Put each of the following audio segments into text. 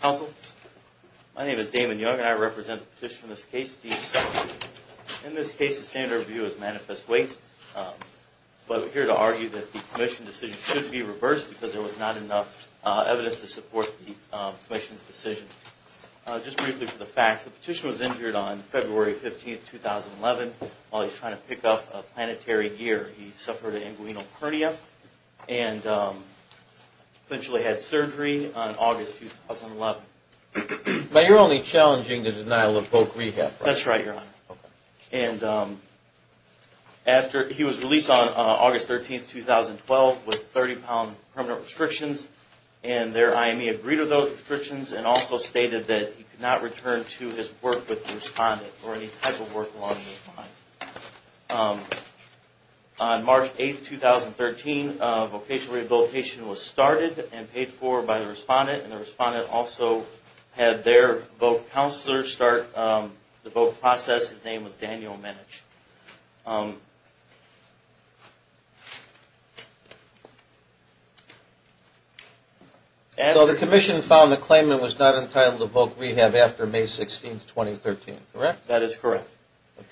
Council, my name is Damon Young and I represent the petition in this case, Steve Sutton. In this case the standard of view is manifest weight, but we're here to argue that the commission decision should be reversed because there was not enough evidence to support the commission's decision. Just briefly for the facts, the petitioner was injured on February 15, 2011, while he was trying to pick up a planetary gear. He suffered an inguinal hernia and eventually had surgery on August 2011. But you're only challenging the denial of folk rehab, right? That's right, Your Honor. And after he was released on August 13, 2012 with 30 pound permanent restrictions and their IME he agreed with those restrictions and also stated that he could not return to his work with the respondent or any type of work along those lines. On March 8, 2013, vocational rehabilitation was started and paid for by the respondent and the respondent also had their voc counselor start the voc process. His name was Daniel Minich. So the commission found the claimant was not entitled to voc rehab after May 16, 2013, correct? That is correct.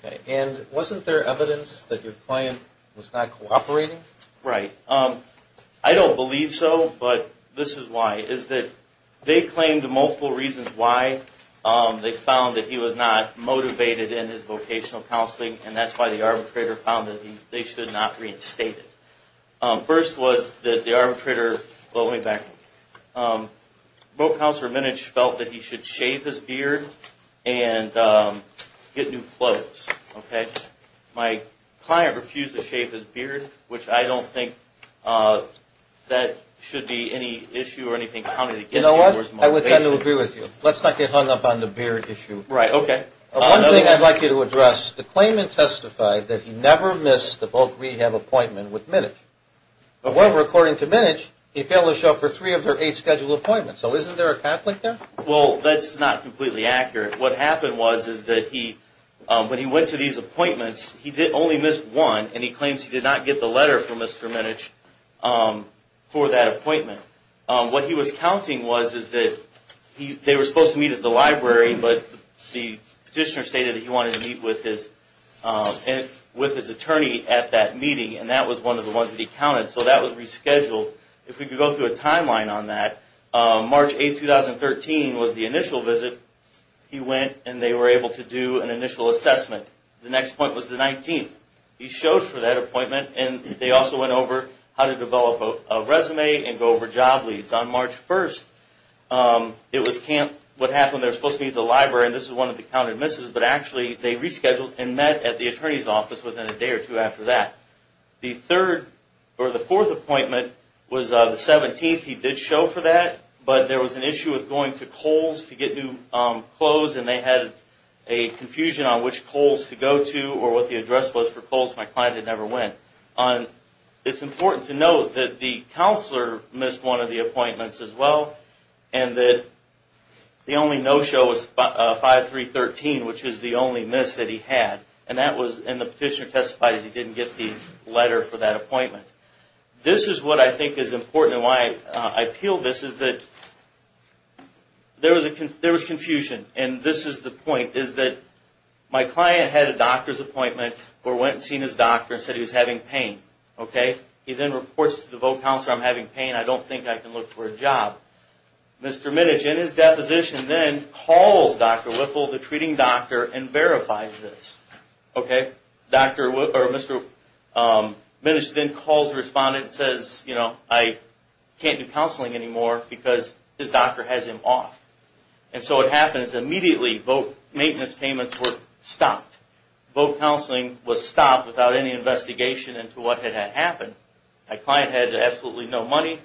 Okay. And wasn't there evidence that your client was not cooperating? Right. I don't believe so, but this is why. They claimed multiple reasons why they found that he was not motivated in his vocational counseling and that's why the arbitrator found that they should not reinstate him. First was that the arbitrator felt that he should shave his beard and get new clothes. My client refused to shave his beard, which I don't think that should be any issue or anything. You know what? I would kind of agree with you. Let's not get hung up on the beard issue. Right. Okay. One thing I'd like you to address, the claimant testified that he never missed the voc rehab appointment with Minich. However, according to Minich, he failed to show up for three of their eight scheduled appointments. So isn't there a conflict there? Well, that's not completely accurate. What happened was that when he went to these appointments, he only missed one and he claims he did not get the letter from Mr. Minich for that appointment. What he was counting was that they were supposed to meet at the library, but the petitioner stated that he wanted to meet with his attorney at that meeting and that was one of the ones that he counted. So that was rescheduled. If we could go through a timeline on that, March 8th, 2013 was the initial visit. He went and they were able to do an initial assessment. The next point was the 19th. He showed for that appointment and they also went over how to develop a resume and go over job leads. On March 1st, it was what happened. They were supposed to meet at the library. This is one of the counted misses, but actually they rescheduled and met at the attorney's office within a day or two after that. The fourth appointment was the 17th. He did show for that, but there was an issue with going to Kohl's to get new clothes and they had a confusion on which Kohl's to go to or what the address was for Kohl's. My client had never went. It's important to note that the counselor missed one of the appointments as well and that the only no-show was 5-3-13, which is the only miss that he had. And the petitioner testified that he didn't get the letter for that appointment. This is what I think is important and why I appeal this is that there was confusion. And this is the point, is that my client had a doctor's appointment or went and seen his doctor and said he was having pain. He then reports to the voc counselor, I'm having pain, I don't think I can look for a job. Mr. Minich in his deposition then calls Dr. Whipple, the treating doctor, and verifies this. Mr. Minich then calls the respondent and says, you know, I can't do counseling anymore because his doctor has him off. And so what happens, immediately maintenance payments were stopped. Voc counseling was stopped without any investigation into what had happened. My client had absolutely no money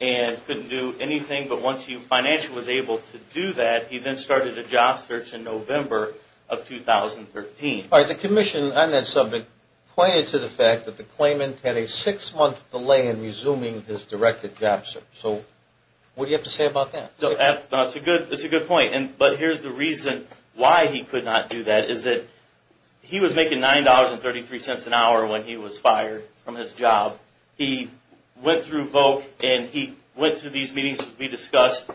and couldn't do anything, but once he financially was able to do that, he then started a job search in November of 2013. The commission on that subject pointed to the fact that the claimant had a six-month delay in resuming his directed job search. So what do you have to say about that? That's a good point. But here's the reason why he could not do that, is that he was making $9.33 an hour when he was fired from his job. He went through these meetings that we discussed,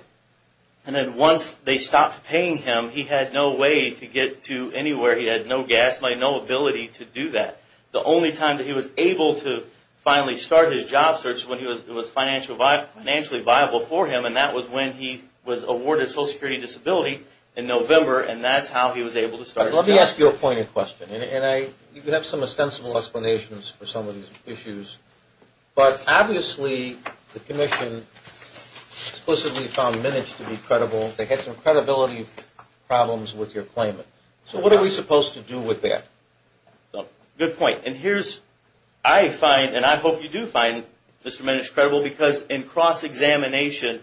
and then once they stopped paying him, he had no way to get to anywhere. He had no gas money, no ability to do that. The only time that he was able to finally start his job search was when it was financially viable for him, and that was when he was awarded Social Security Disability in November, and that's how he was able to start his job search. Let me ask you a pointed question, and you have some ostensible explanations for some of these issues, but obviously the commission explicitly found Minitch to be credible. They had some credibility problems with your claimant. So what are we supposed to do with that? Good point. And here's, I find, and I hope you do find Mr. Minitch credible, because in cross-examination,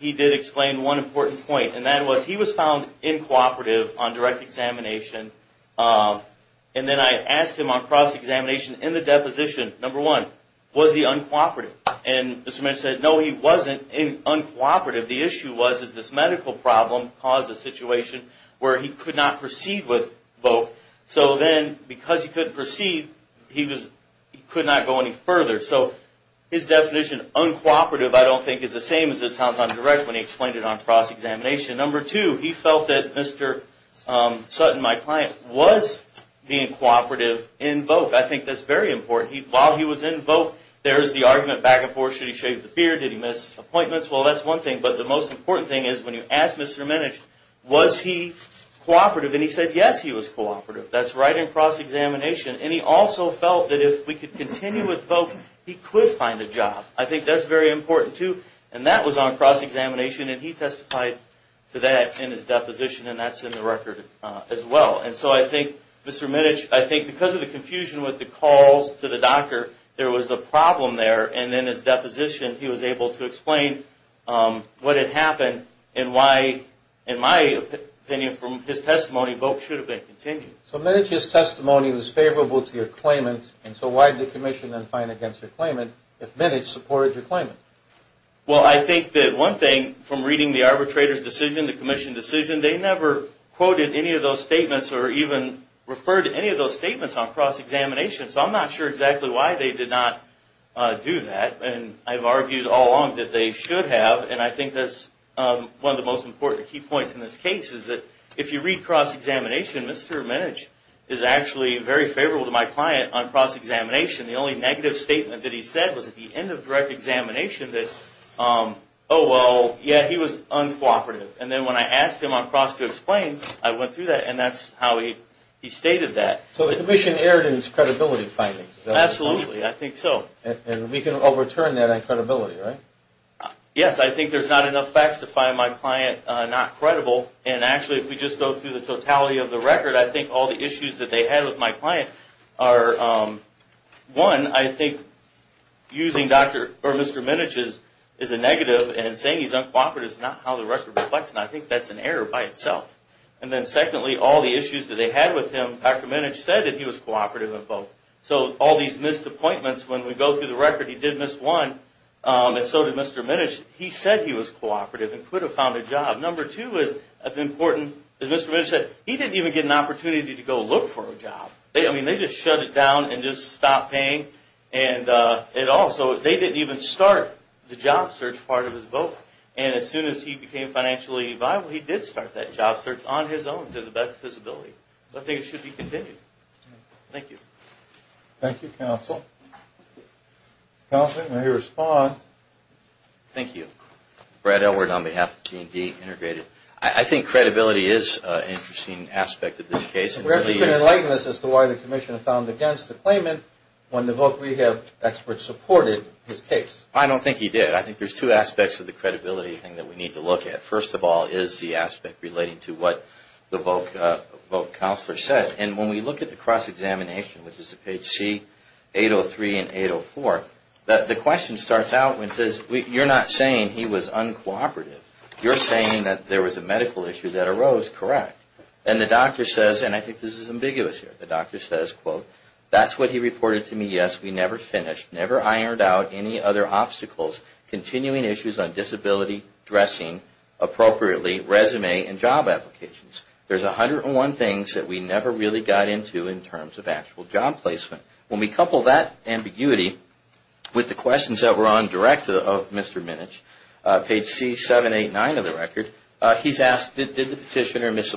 he did explain one important point, and that was he was found uncooperative on direct examination, and then I asked him on cross-examination in the deposition, number one, was he uncooperative? And Mr. Minitch said, no, he wasn't uncooperative. The issue was, is this medical problem caused a situation where he could not proceed with both. So then, because he couldn't proceed, he could not go any further. So his definition, uncooperative, I don't think is the correct way to explain it on cross-examination. Number two, he felt that Mr. Sutton, my client, was being cooperative in VOC. I think that's very important. While he was in VOC, there's the argument back and forth, should he shave his beard? Did he miss appointments? Well, that's one thing. But the most important thing is, when you ask Mr. Minitch, was he cooperative? And he said, yes, he was cooperative. That's right in cross-examination. And he also felt that if we could continue with VOC, he could find a job. I think that's very important, too. And that was on cross-examination, and he testified to that in his deposition, and that's in the record as well. And so I think, Mr. Minitch, I think because of the confusion with the calls to the doctor, there was a problem there. And in his deposition, he was able to explain what had happened and why, in my opinion, from his testimony, VOC should have been continued. So Minitch's testimony was favorable to your claimant, and so why did the commission then fine against your claimant if Minitch supported your claimant? Well, I think that one thing from reading the arbitrator's decision, the commission decision, they never quoted any of those statements or even referred to any of those statements on cross-examination. So I'm not sure exactly why they did not do that. And I've argued all along that they should have, and I think that's one of the most important key points in this case is that if you read cross-examination, Mr. Minitch is actually very favorable to my client on cross-examination. The only negative statement that he said was at the end of direct examination that, oh, well, yeah, he was uncooperative. And then when I asked him on cross to explain, I went through that, and that's how he stated that. So the commission erred in its credibility findings. Absolutely. I think so. And we can overturn that on credibility, right? Yes. I think there's not enough facts to find my client not credible. And actually, if we just go through the totality of the record, I think all the issues that they had with my client are, one, I think using Mr. Minitch as a negative and saying he's uncooperative is not how the record reflects, and I think that's an error by Mr. Minitch saying that he was cooperative in both. So all these missed appointments, when we go through the record, he did miss one, and so did Mr. Minitch. He said he was cooperative and could have found a job. Number two is as important as Mr. Minitch said, he didn't even get an opportunity to go look for a job. I mean, they just shut it down and just stopped paying at all. So they didn't even start the job search part of his vote. And as soon as he became financially viable, he did start that job search on his own to the best of his ability. So I think it should be continued. Thank you. Thank you, counsel. Counselor, you may respond. Thank you. Brad Elward on behalf of G&D Integrated. I think credibility is an interesting aspect of this case. We have to be enlighten us as to why the commission found against the claimant when the voc rehab experts supported his case. I don't think he did. I think there's two aspects of the credibility thing that we need to look at. First of all is the aspect relating to what the voc counselor said. And when we look at the cross-examination, which is at page C803 and 804, the question starts out and says, you're not saying he was uncooperative. You're saying that there was a medical issue that arose. Correct. And the doctor says, and I think this is ambiguous here, the doctor says, quote, that's what he reported to me. Yes, we never finished, never ironed out any other obstacles, continuing issues on disability, dressing, appropriately, resume and job applications. There's 101 things that we never really got into in terms of actual job placement. When we couple that ambiguity with the questions that were on direct of Mr. Minich, page C789 of the record, he's asked, did the petitioner miss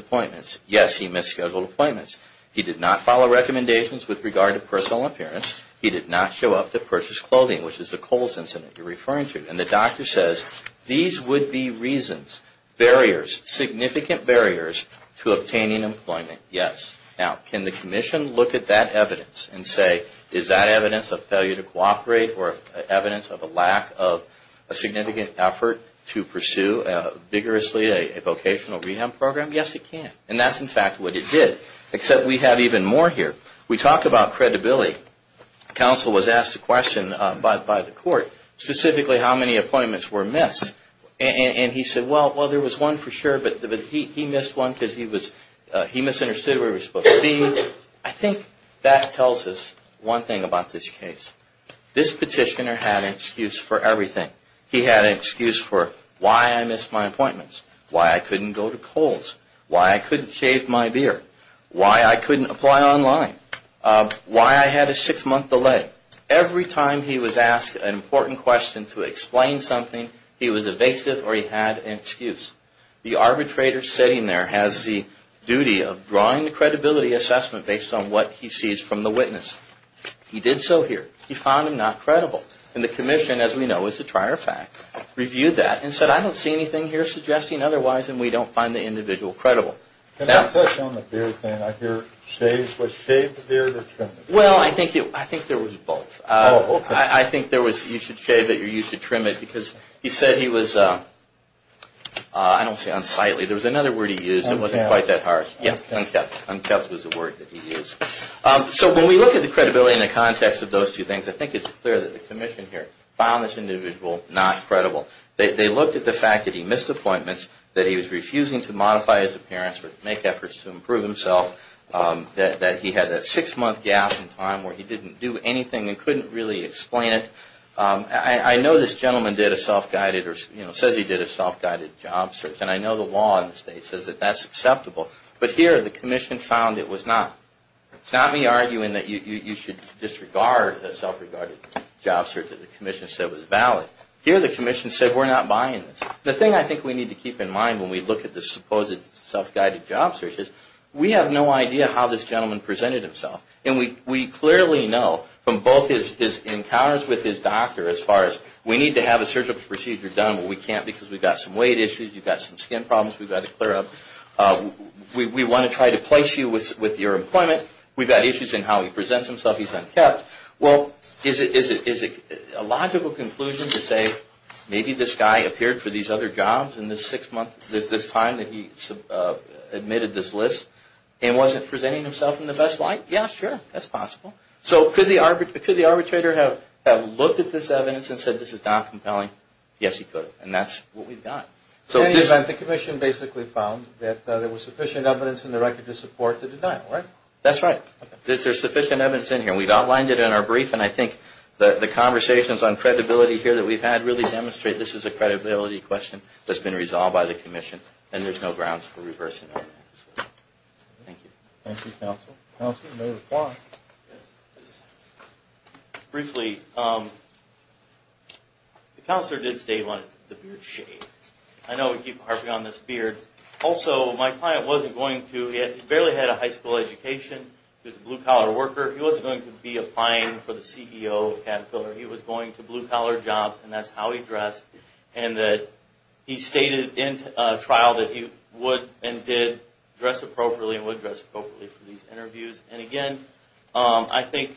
He did not follow recommendations with regard to personal appearance. He did not show up to purchase clothing, which is the Coles incident you're referring to. And the doctor says, these would be reasons, barriers, significant barriers to obtaining employment. Yes. Now, can the commission look at that evidence and say, is that evidence of failure to cooperate or evidence of a lack of a significant effort to pursue vigorously a vocational rehab program? Yes, it can. And that's, in fact, what it did. Except we have even more here. We talk about credibility. Counsel was asked a question by the court, specifically how many appointments were missed. And he said, well, there was one for sure, but he missed one because he misunderstood where he was supposed to be. I think that tells us one thing about this case. This petitioner had an excuse for everything. He had an excuse for why I missed my appointments, why I couldn't go to Coles, why I couldn't shave my beard, why I couldn't apply online, why I had a six-month delay. Every time he was asked an important question to explain something, he was evasive or he had an excuse. The arbitrator sitting there has the duty of drawing the credibility assessment based on what he sees from the witness. He did so here. He found him not credible. And the commission, as we know, is a trier of fact, reviewed that and said, I don't see anything here suggesting otherwise, and we don't find the individual credible. Well, I think there was both. I think there was you should shave it or you should trim it because he said he was, I don't say unsightly. There was another word he used that wasn't quite that harsh. Unkept. Unkept was the word that he used. So when we look at the credibility in the context of those two things, I think it's clear that the commission here found this individual not credible. They looked at the fact that he missed appointments, that he was refusing to modify his appearance or make efforts to improve himself, that he had that six-month gap in time where he didn't do anything and couldn't really explain it. I know this gentleman did a self-guided or says he did a self-guided job search, and I know the law in the state says that that's acceptable. But here, the commission found it was not. It's not me arguing that you should disregard the self-regarded job search that the commission said was valid. Here, the commission said we're not buying this. The thing I think we need to keep in mind when we look at the supposed self-guided job search is we have no idea how this gentleman presented himself, and we clearly know from both his encounters with his doctor as far as we need to have a surgical procedure done, but we can't because we've got some weight issues, you've got some skin problems we've got to clear up. We want to try to place you with your employment. We've got issues in how he presents himself. He's unkept. Well, is it a logical conclusion to say maybe this guy appeared for these other jobs in this six-month time that he admitted this list and wasn't presenting himself in the best light? Yeah, sure. That's possible. So could the arbitrator have looked at this evidence and said this is not compelling? Yes, he could, and that's what we've got. In any event, the commission basically found that there was sufficient evidence in the record to support the denial, right? That's right. There's sufficient evidence in here. We've outlined it in our brief, and I think the conversations on credibility here that we've had really demonstrate this is a credibility question that's been resolved by the commission, and there's no grounds for reversing that. Thank you. Thank you, Counsel. Counsel, you may reply. Briefly, the counselor did state on the beard shade. I know we keep harping on this beard. Also, my client wasn't going to, he barely had a high school education. He was a blue-collar worker. He wasn't going to be applying for the CEO of Caterpillar. He was going to blue-collar jobs, and that's how he dressed, and that he stated in trial that he would and did dress appropriately and would dress appropriately for these interviews. And again, I think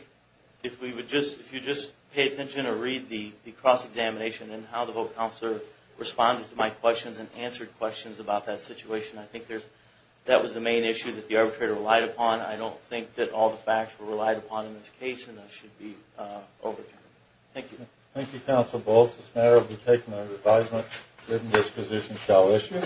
if we would just, if you just pay attention or read the cross-examination and how the vote counselor responded to my questions and answered questions about that situation, I think that was the main issue that the arbitrator relied upon. I don't think that all the facts were relied upon in this case, and that should be overturned. Thank you. Thank you, Counsel Balls. This matter will be taken under advisement, written disposition shall issue.